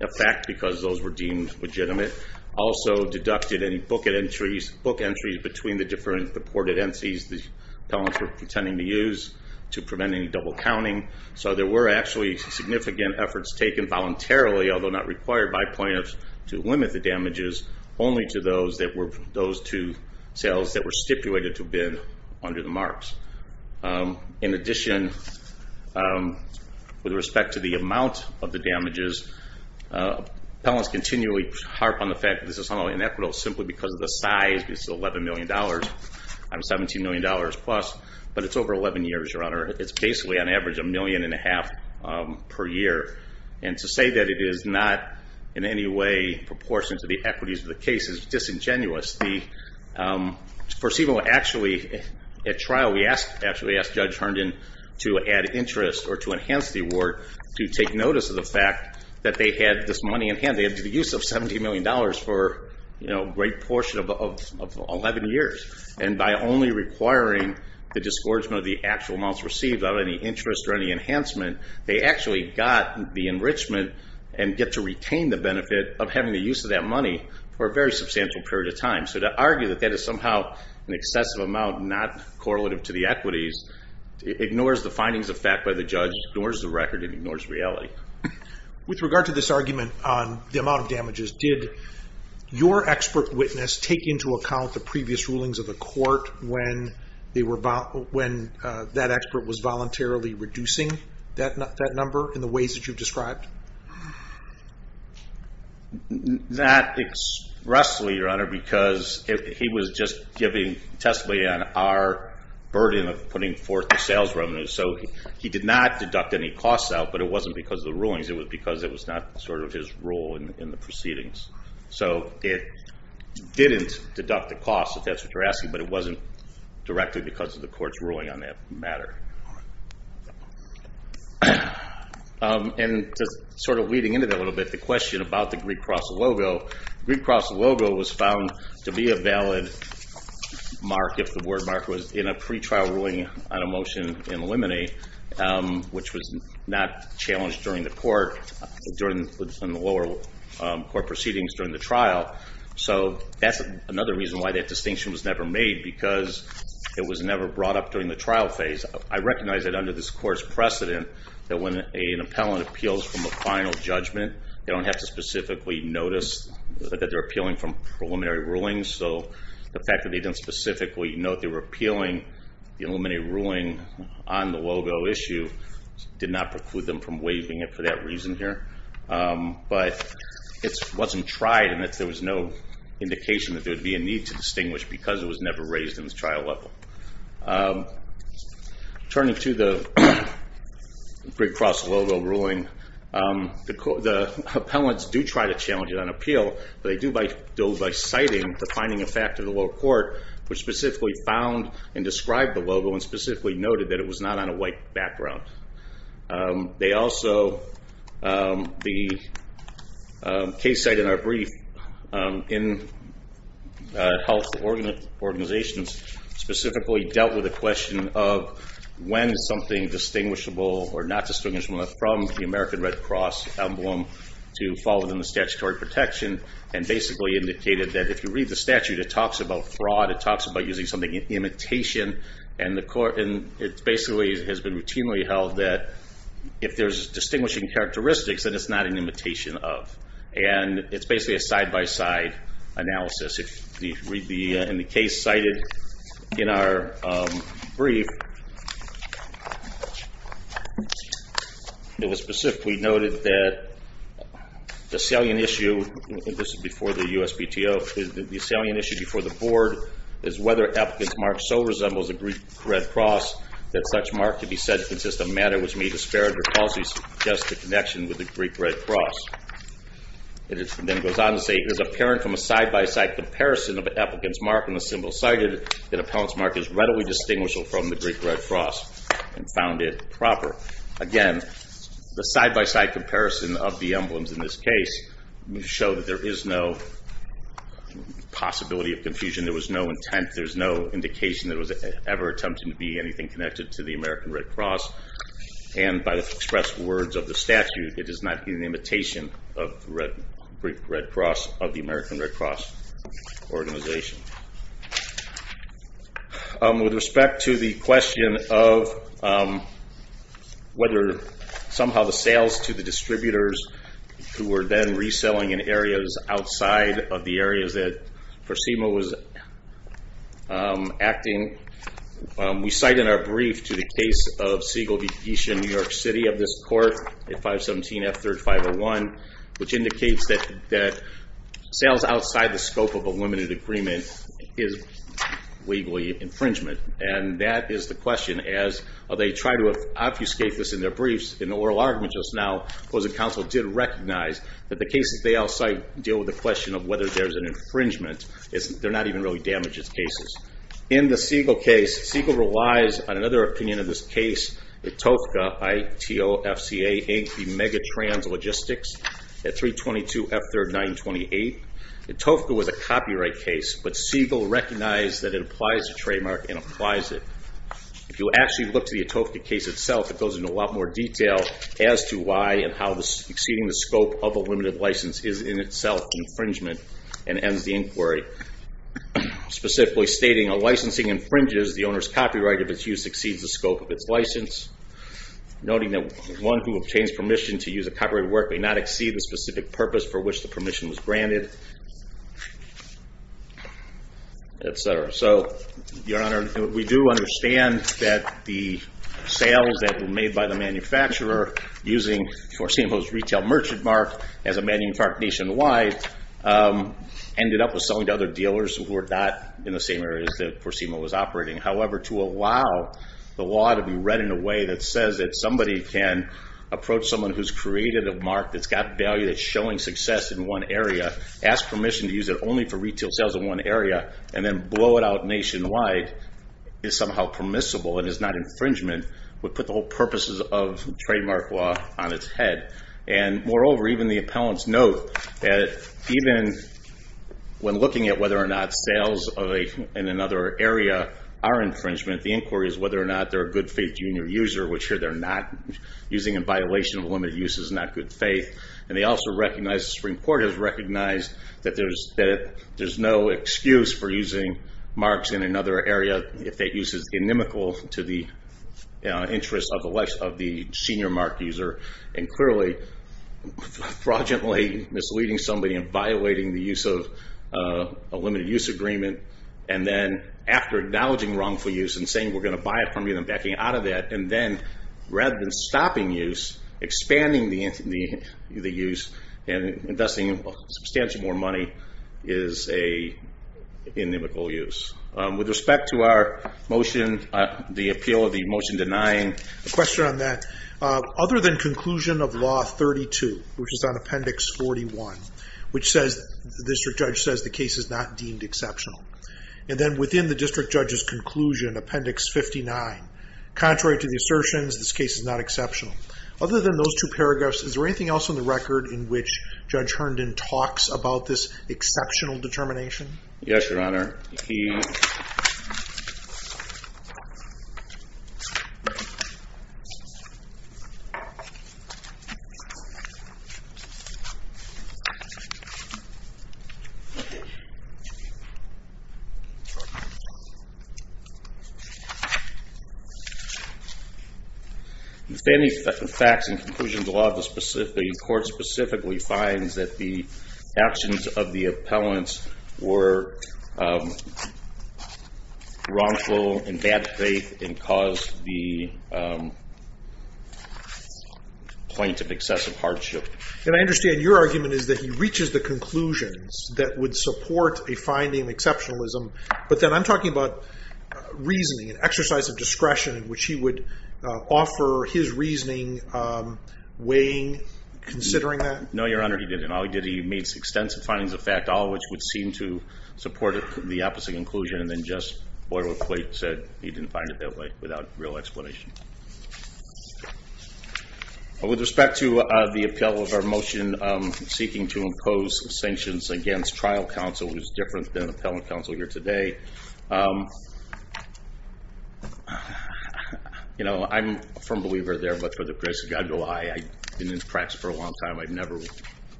effect because those were deemed legitimate. Also deducted any book entries between the different reported entities the appellants were pretending to use to prevent any double counting so there were actually significant efforts taken voluntarily although not required by plaintiffs to limit the damages only to those two sales that were stipulated to bid under the marks. In addition with respect to the amount of the damages appellants continually harp on the fact that this is only inequitable simply because of the size it's $11 million dollars out of $17 million dollars plus but it's over 11 years your honor. It's basically on average a million and a half per year and to say that it is not in any way proportionate to the equities of the case is disingenuous at trial we actually asked Judge Herndon to add interest or to enhance the award to take notice of the fact that they had this money in hand. They had to do the use of $17 million for a great portion of 11 years and by only requiring the disgorgement of the actual amounts received out of any interest or any enhancement they actually got the enrichment and get to retain the benefit of having the use of that money for a very substantial period of time so to argue that that is somehow an excessive amount not correlative to the equities ignores the findings of fact by the judge ignores the record and ignores reality. With regard to this argument on the amount of damages did your expert witness take into account the previous rulings of the court when that expert was voluntarily reducing that number in the ways that you described? Not expressly your honor because he was just giving testimony on our burden of putting forth the sales revenues so he did not deduct any costs out but it wasn't because of the rulings it was because it was not sort of his role in the proceedings so it didn't deduct the cost if that's what you're asking but it wasn't directly because of the court's ruling on that matter. And just sort of leading into that a little bit the question about the Greek cross logo. The Greek cross logo was found to be a valid mark if the word mark was in a pre-trial ruling on a motion in limine which was not challenged during the court during the lower court proceedings during the trial so that's another reason why that distinction was never made because it was never brought up during the trial phase. I recognize that under this court's precedent that when an appellant appeals from a final judgment they don't have to specifically notice that they're appealing from preliminary rulings so the fact that they didn't specifically note they were appealing the preliminary ruling on the logo issue did not preclude them from waiving it for that reason here but it wasn't tried and there was no indication that there would be a need to distinguish because it was never raised in the trial level. Turning to the the appellants do try to challenge it on appeal but they do so by citing the finding of fact of the lower court which specifically found and described the logo and specifically noted that it was not on a white background. They also the case cited in our brief in health organizations specifically dealt with the question of when something distinguishable or not distinguishable from the American Red Cross emblem to fall within the statutory protection and basically indicated that if you read the statute it talks about fraud, it talks about using something in imitation and it basically has been routinely held that if there's distinguishing characteristics then it's not an imitation of and it's basically a side-by-side analysis. In the case cited in our brief it was specifically noted that the salient issue and this is before the USPTO the salient issue before the board is whether Appellant's Mark so resembles the Greek Red Cross that such mark to be said to consist of a matter which may disparage the connection with the Greek Red Cross. It then goes on to say it is apparent from a side-by-side comparison of Appellant's Mark and the symbol cited that Appellant's Mark is readily distinguishable from the Greek Red Cross and found it proper. Again the side-by-side comparison of the emblems in this case show that there is no possibility of confusion, there was no intent, there was no indication that it was ever attempting to be anything connected to the American Red Cross and by the expressed words of the statute it is not in imitation of the Greek Red Cross of the American Red Cross organization. With respect to the question of whether somehow the sales to the distributors who were then reselling in areas outside of the areas that Forcima was acting, we cite in our brief to the case of Siegel v. Geisha in New York City of this court at 517 F3rd 501 which indicates that sales outside the scope of a limited agreement is legally infringement and that is the question as they try to obfuscate this in their briefs in the oral argument just now opposing counsel did recognize that the cases they all cite deal with the question of whether there is an infringement they are not even really damages cases. In the Siegel case, Siegel relies on another opinion of this case Etofka ITOFCA Logistics at 322 F3rd 928 Etofka was a copyright case but Siegel recognized that it applies to trademark and applies it. If you actually look to the Etofka case itself it goes into a lot more detail as to why and how exceeding the scope of a limited license is in itself infringement and ends the inquiry. Specifically stating a licensing infringes the owner's copyright if its use exceeds the scope of its license noting that one who obtains permission to use a copyrighted work may not exceed the specific purpose for which the permission was granted etc. So your honor we do understand that the sales that were made by the manufacturer using Forcimo's retail merchant mark as a manufacturer nationwide ended up with selling to other dealers who were not in the same areas that Forcimo was operating However to allow the law to be read in a way that says that somebody can approach someone who's created a mark that's got value that's showing success in one area, ask permission to use it only for retail sales in one area and then blow it out nationwide is somehow permissible and is not infringement would put the whole purposes of trademark law on its head and moreover even the appellants note that even when looking at whether or not sales in another area are infringement the inquiry is whether or not they're a good faith junior user which here they're not, using in violation of limited use is not good faith and they also recognize, the Supreme Court has recognized that there's no excuse for using marks in another area if that use is inimical to the interest of the senior mark user and clearly fraudulently misleading somebody and violating the use of a limited use agreement and then after acknowledging wrongful use and saying we're going to buy it from you and backing out of that and then rather than stopping use, expanding the use and investing substantially more money is a inimical use. With respect to our motion the appeal of the motion denying Other than conclusion of law 32 which is on appendix 41 the district judge says the case is not deemed exceptional and then within the district judge's conclusion appendix 59, contrary to the assertions, this case is not exceptional. Other than those two paragraphs, is there anything else in the record in which Judge Herndon talks about this exceptional determination? Yes, your honor If any facts and conclusions the law of the court specifically finds that the actions of the appellants were wrongful in bad faith and caused point of excessive hardship to the defendant and the court And I understand your argument is that he reaches the conclusions that would support a finding of exceptionalism but then I'm talking about reasoning, an exercise of discretion in which he would offer his reasoning weighing, considering that? No, your honor, he didn't. All he did, he made extensive findings of fact all of which would seem to support the opposite conclusion and then just boilerplate said he didn't find it that way without real explanation With respect to the appeal of our motion seeking to impose sanctions against trial counsel, which is different than appellant counsel here today You know, I'm a firm believer there, but for the grace of God, I've been in practice for a long time I've never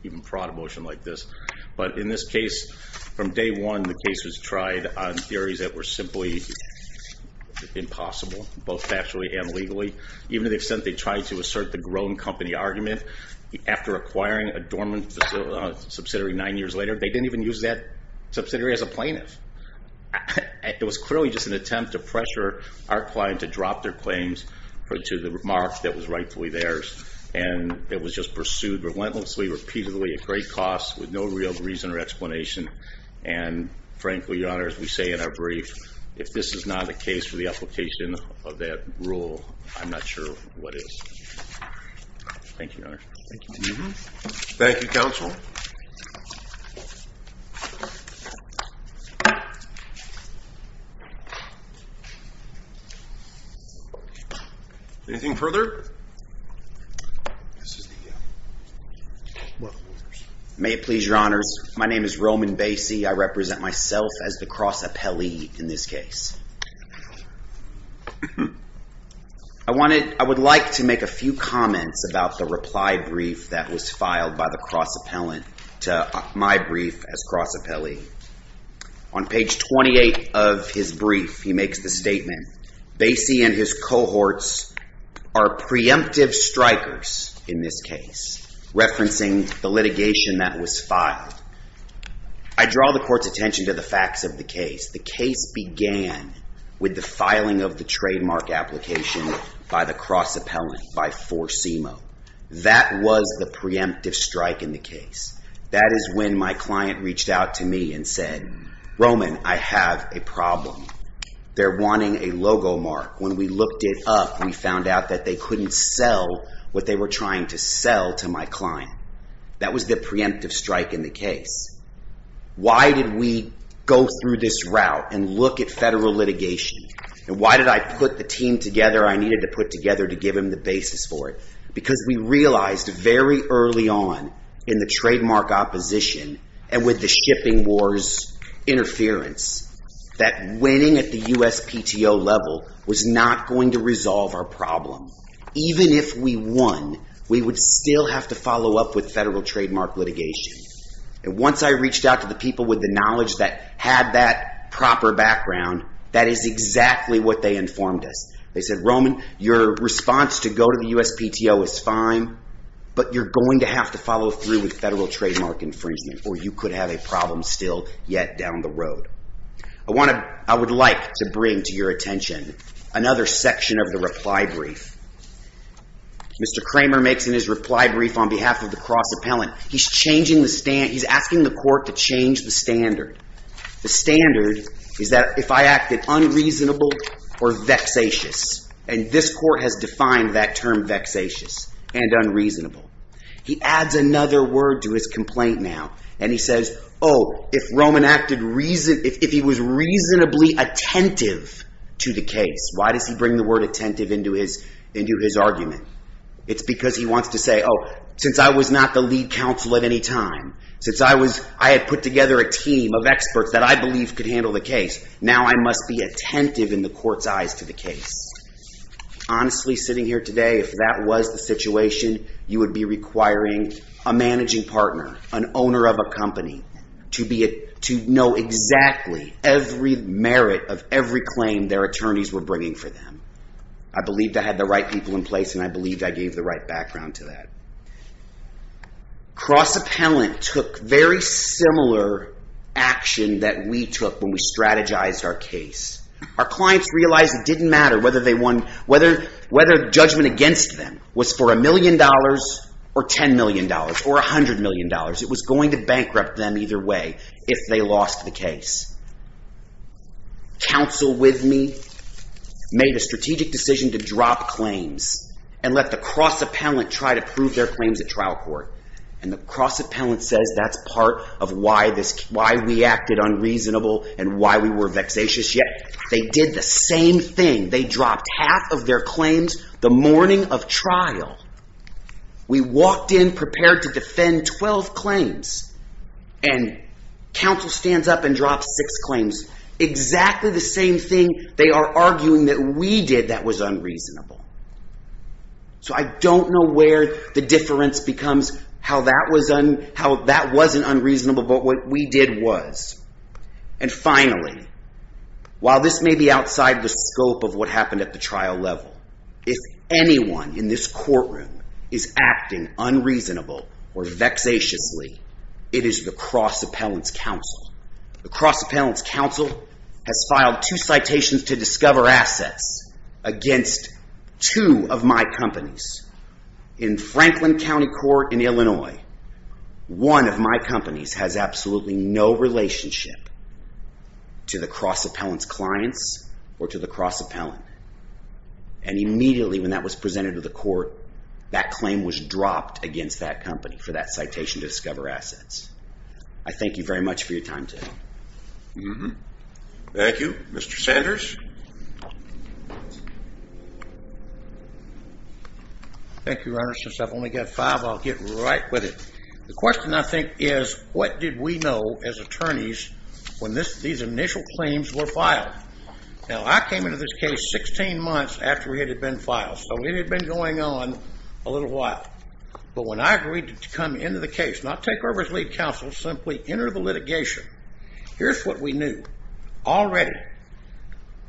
even brought a motion like this but in this case, from day one, the case was tried on theories that were simply impossible, both factually and legally even to the extent they tried to assert the grown company argument after acquiring a dormant subsidiary nine years later, they didn't even use that subsidiary as a plaintiff It was clearly just an attempt to pressure our client to drop their claims to the remarks that was rightfully theirs and it was just pursued relentlessly, repeatedly at great cost with no real reason or explanation and frankly, your honor, as we say in our brief if this is not a case for the application of that rule, I'm not sure what is Thank you, your honor Thank you, counsel Anything further? This is the May it please your honors My name is Roman Basie, I represent myself as the cross-appellee in this case I would like to make a few comments about the reply brief that was filed by the cross-appellant to my brief as cross-appellee On page 28 of his brief, he makes the statement Basie and his cohorts are preemptive strikers in this case referencing the litigation that was filed I draw the court's attention to the facts of the case The case began with the filing of the trademark application by the cross-appellant by Forcimo That was the preemptive strike in the case That is when my client reached out to me and said Roman, I have a problem They're wanting a logo mark When we looked it up, we found out that they couldn't sell what they were trying to sell to my client That was the preemptive strike in the case Why did we go through this route and look at federal litigation and why did I put the team together I needed to put together to give him the basis for it Because we realized very early on in the trademark opposition and with the shipping wars interference that winning at the USPTO level was not going to resolve our problem Even if we won, we would still have to follow up with federal trademark litigation Once I reached out to the people with the knowledge that had that proper background That is exactly what they informed us They said, Roman, your response to go to the USPTO is fine but you're going to have to follow through with federal trademark infringement or you could have a problem still yet down the road I would like to bring to your attention another section of the reply brief Mr. Kramer makes in his reply brief on behalf of the cross-appellant He's asking the court to change the standard The standard is that if I acted unreasonable or vexatious and this court has defined that term vexatious and unreasonable He adds another word to his complaint now and he says, oh, if Roman acted reasonably if he was reasonably attentive to the case why does he bring the word attentive into his argument It's because he wants to say since I was not the lead counsel at any time since I had put together a team of experts that I believed could handle the case now I must be attentive in the court's eyes to the case Honestly, sitting here today, if that was the situation you would be requiring a managing partner an owner of a company to know exactly every merit of every claim their attorneys were bringing for them I believed I had the right people in place and I believed I gave the right background to that Cross-appellant took very similar action that we took when we strategized our case Our clients realized it didn't matter whether judgment against them was for a million dollars or ten million dollars or a hundred million dollars It was going to bankrupt them either way if they lost the case Counsel with me made a strategic decision to drop claims and let the cross-appellant try to prove their claims at trial court and the cross-appellant says that's part of why we acted unreasonable and why we were vexatious Yet they did the same thing They dropped half of their claims the morning of trial We walked in prepared to defend twelve claims and counsel stands up and drops six claims Exactly the same thing they are arguing that we did that was unreasonable So I don't know where the difference becomes how that wasn't unreasonable but what we did was And finally, while this may be outside the scope of what happened at the trial level If anyone in this courtroom is acting unreasonable or vexatiously It is the cross-appellant's counsel The cross-appellant's counsel has filed two citations to discover assets against two of my companies In Franklin County Court in Illinois One of my companies has absolutely no relationship to the cross-appellant's clients or to the cross-appellant And immediately when that was presented to the court That claim was dropped against that company for that citation to discover assets I thank you very much for your time today Thank you, Mr. Sanders Thank you, Your Honor Since I've only got five I'll get right with it The question I think is what did we know as attorneys when these initial claims were filed Now I came into this case sixteen months after it had been filed So it had been going on a little while But when I agreed to come into the case not take over as lead counsel, simply enter the litigation Here's what we knew. Already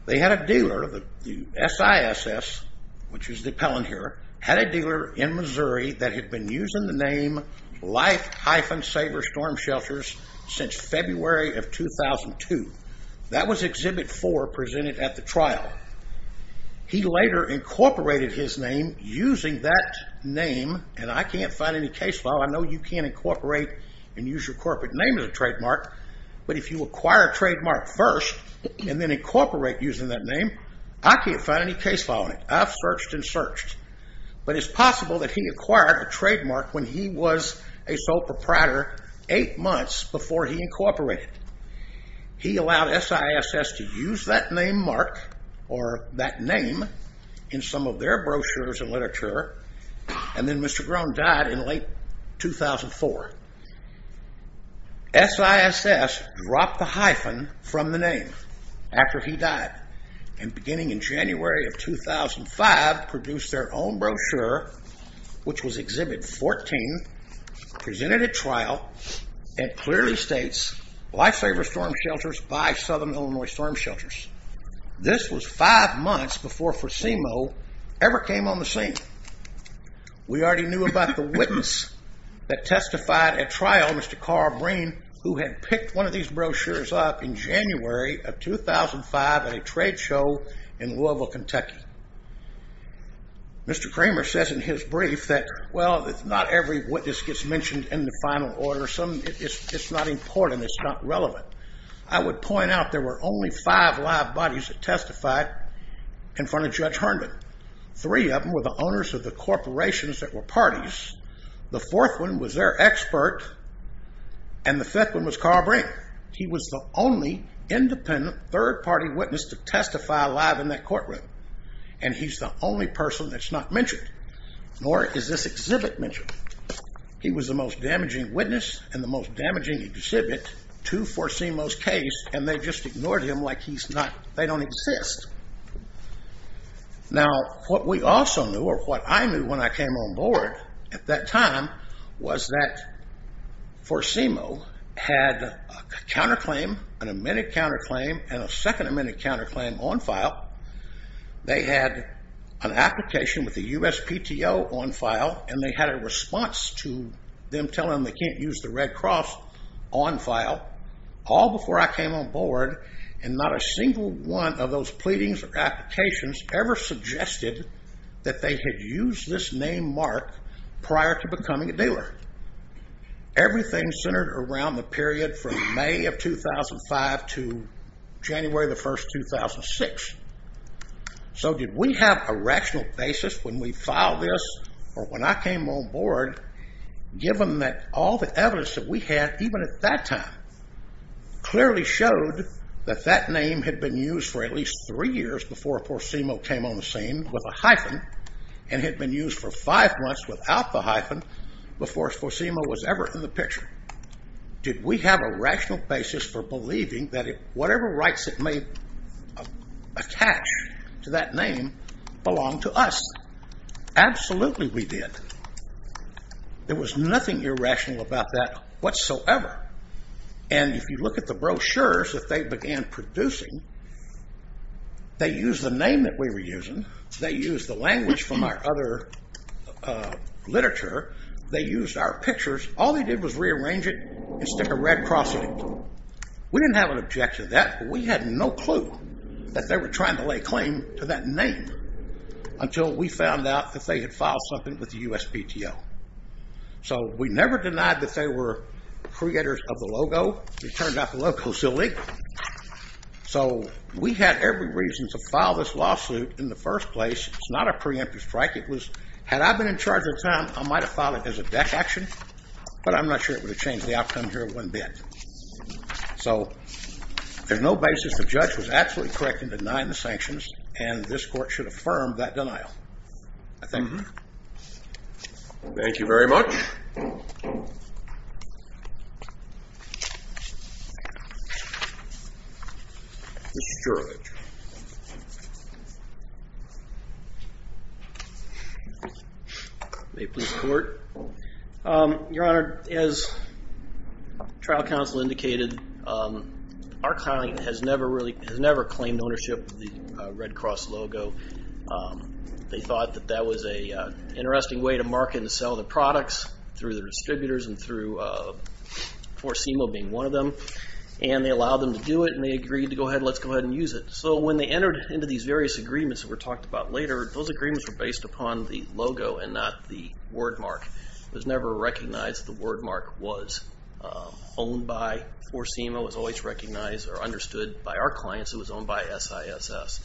They had a dealer, the SISS which is the appellant here had a dealer in Missouri that had been using the name Life-Saver Storm Shelters since February of 2002 That was Exhibit 4 presented at the trial He later incorporated his name using that name and I can't find any case file I know you can't incorporate and use your corporate name as a trademark But if you acquire a trademark first and then incorporate using that name I can't find any case file on it. I've searched and searched But it's possible that he acquired a trademark when he was a sole proprietor eight months before he incorporated He allowed SISS to use that name mark or that name in some of their brochures and literature and then Mr. Grone died in late 2004 SISS dropped the hyphen from the name after he died and beginning in January of 2005 produced their own brochure which was Exhibit 14 presented at trial and clearly states Life-Saver Storm Shelters by Southern Illinois Storm Shelters This was five months before FACIMO ever came on the scene We already knew about the witness that testified at trial, Mr. Carl Breen who had picked one of these brochures up in January of 2005 at a trade show in Louisville, Kentucky Mr. Kramer says in his brief that not every witness gets mentioned in the final order. It's not important, it's not relevant I would point out there were only five live bodies that testified in front of Judge Herndon Three of them were the owners of the corporations that were parties. The fourth one was their expert and the fifth one was Carl Breen He was the only independent third party witness to testify live in that courtroom and he's the only person that's not mentioned nor is this exhibit mentioned He was the most damaging witness and the most damaging exhibit to FACIMO's case and they just ignored him like they don't exist Now what we also knew, or what I knew when I came on board at that time was that FACIMO had a counterclaim, an amended counterclaim and a second amended counterclaim on file They had an application with the USPTO on file and they had a response to them telling them they can't use the Red Cross on file all before I came on board and not a single one of those pleadings or applications ever suggested that they had used this name mark prior to becoming a dealer Everything centered around the period from May of 2005 to January 1st 2006 So did we have a rational basis when we filed this or when I came on board given that all the evidence that we had even at that time clearly showed that that name had been used for at least three years before FACIMO came on the scene with a hyphen and had been used for five months without the hyphen before FACIMO was ever in the picture? Did we have a rational basis for believing that whatever rights it may attach to that name belong to us? Absolutely we did. There was nothing irrational about that whatsoever. And if you look at the brochures that they began producing they used the name that we were using they used the language from our other they used our pictures. All they did was rearrange it and stick a red cross on it. We didn't have an objection to that, but we had no clue that they were trying to lay claim to that name until we found out that they had filed something with the USPTO So we never denied that they were creators of the logo. It turned out the logo was illegal So we had every reason to file this lawsuit in the first place. It's not a preemptive strike. It was, had I been in charge at the time, I might have filed it as a defection, but I'm not sure it would have changed the outcome here one bit. So there's no basis. The judge was absolutely correct in denying the sanctions and this court should affirm that denial I think. Thank you very much Mr. Gerlach May it please the court Your Honor, as trial counsel indicated, our client has never claimed ownership of the Red Cross logo. They thought that that was an interesting way to market and sell the products through the distributors and through Forsemo being one of them. And they allowed them to do it and they agreed to go ahead and let's go ahead and use it. So when they entered into these various agreements that were talked about later, those agreements were based upon the logo and not the wordmark It was never recognized that the wordmark was owned by Forsemo. It was always recognized or understood by our clients that it was owned by SISS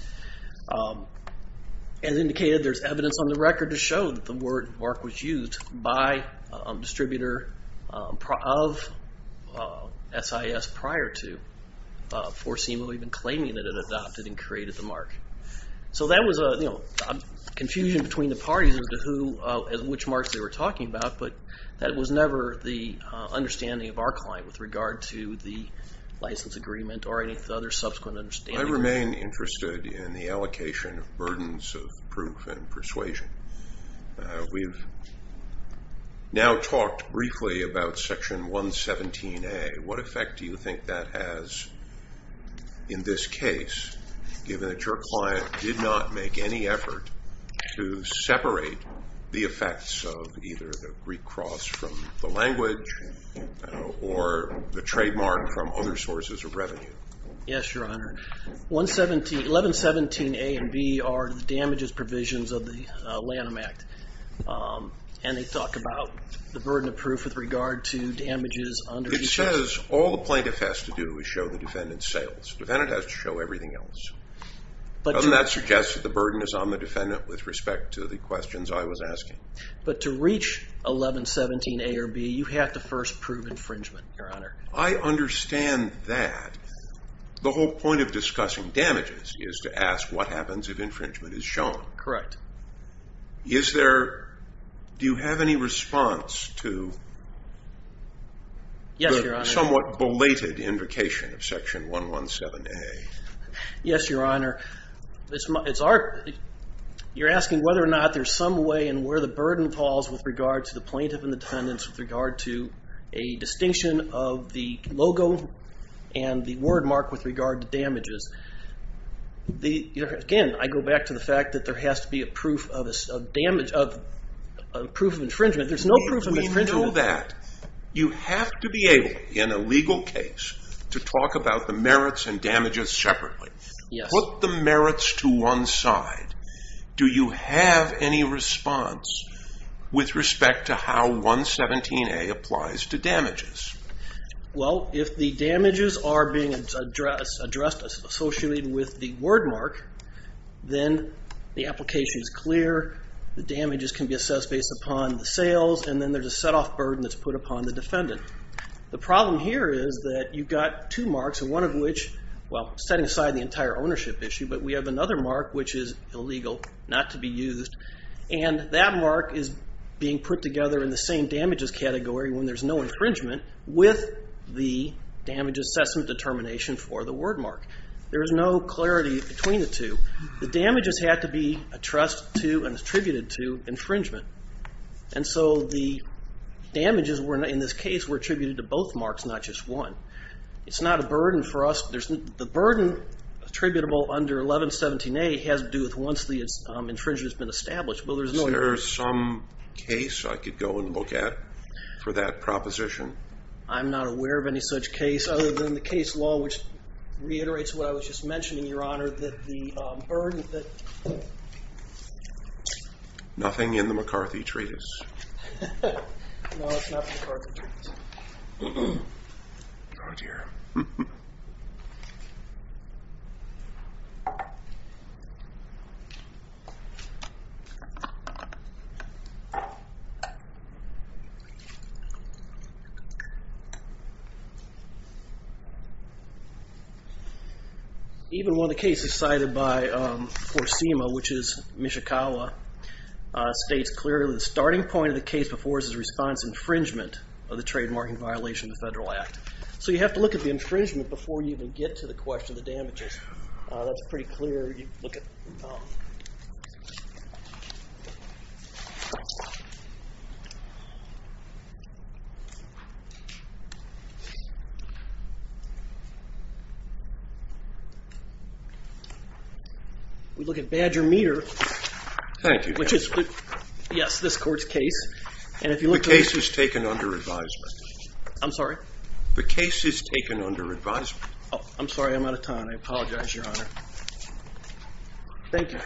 As indicated, there's evidence on the record to show that the wordmark was used by a distributor of SISS prior to Forsemo even claiming that it had adopted and created the mark So that was a confusion between the parties as to which mark they were talking about but that was never the understanding of our client with regard to the license agreement or any other subsequent understanding. I remain interested in the allocation of burdens of proof and persuasion We've now talked briefly about section 117A What effect do you think that has in this case given that your client did not make any effort to separate the effects of either the Greek cross from the language or the trademark from other sources of revenue Yes, Your Honor. 1117A and B are the damages provisions of the Lanham Act and they talk about the burden of proof with regard to damages It says all the plaintiff has to do is show the defendant's sales. The defendant has to show everything else Doesn't that suggest that the burden is on the defendant with respect to the questions I was asking? But to reach 1117A or B, you have to first prove infringement I understand that The whole point of discussing damages is to ask what happens if infringement is shown Correct Do you have any response to the somewhat belated invocation of section 117A? Yes, Your Honor You're asking whether or not there's some way and where the burden falls with regard to the plaintiff and the defendants with regard to a distinction of the logo and the word mark with regard to damages Again, I go back to the fact that there has to be a proof of infringement. There's no proof of infringement You have to be able, in a legal case to talk about the merits and damages separately Put the merits to one side Do you have any response with respect to how 117A applies to damages? Well, if the damages are being addressed associated with the word mark then the application is clear the damages can be assessed based upon the sales and then there's a set off burden that's put upon the defendant The problem here is that you've got two marks one of which, well, setting aside the entire ownership issue but we have another mark which is illegal, not to be used and that mark is being put together in the same damages category when there's no infringement with the damage assessment determination for the word mark. There is no clarity between the two The damages have to be attributed to infringement. And so the damages in this case were attributed to both marks, not just one. It's not a burden for us The burden attributable under 1117A has to do with once the infringement has been established Is there some case I could go and look at for that proposition? I'm not aware of any such case other than the case law which reiterates what I was just mentioning, Your Honor that the burden Nothing in the McCarthy Treatise No, it's not in the McCarthy Treatise Oh dear Even one of the cases cited by Even one of the cases cited by Forsima, which is Mishikawa states clearly the starting point of the case before is the response infringement of the trademarking violation of the Federal Act. So you have to look at the infringement before you even get to the question of the damages That's pretty clear We look at Badger Meter Thank you The case is taken under advisement I'm sorry? The case is taken under advisement I'm sorry, I'm out of time. I apologize, Your Honor Thank you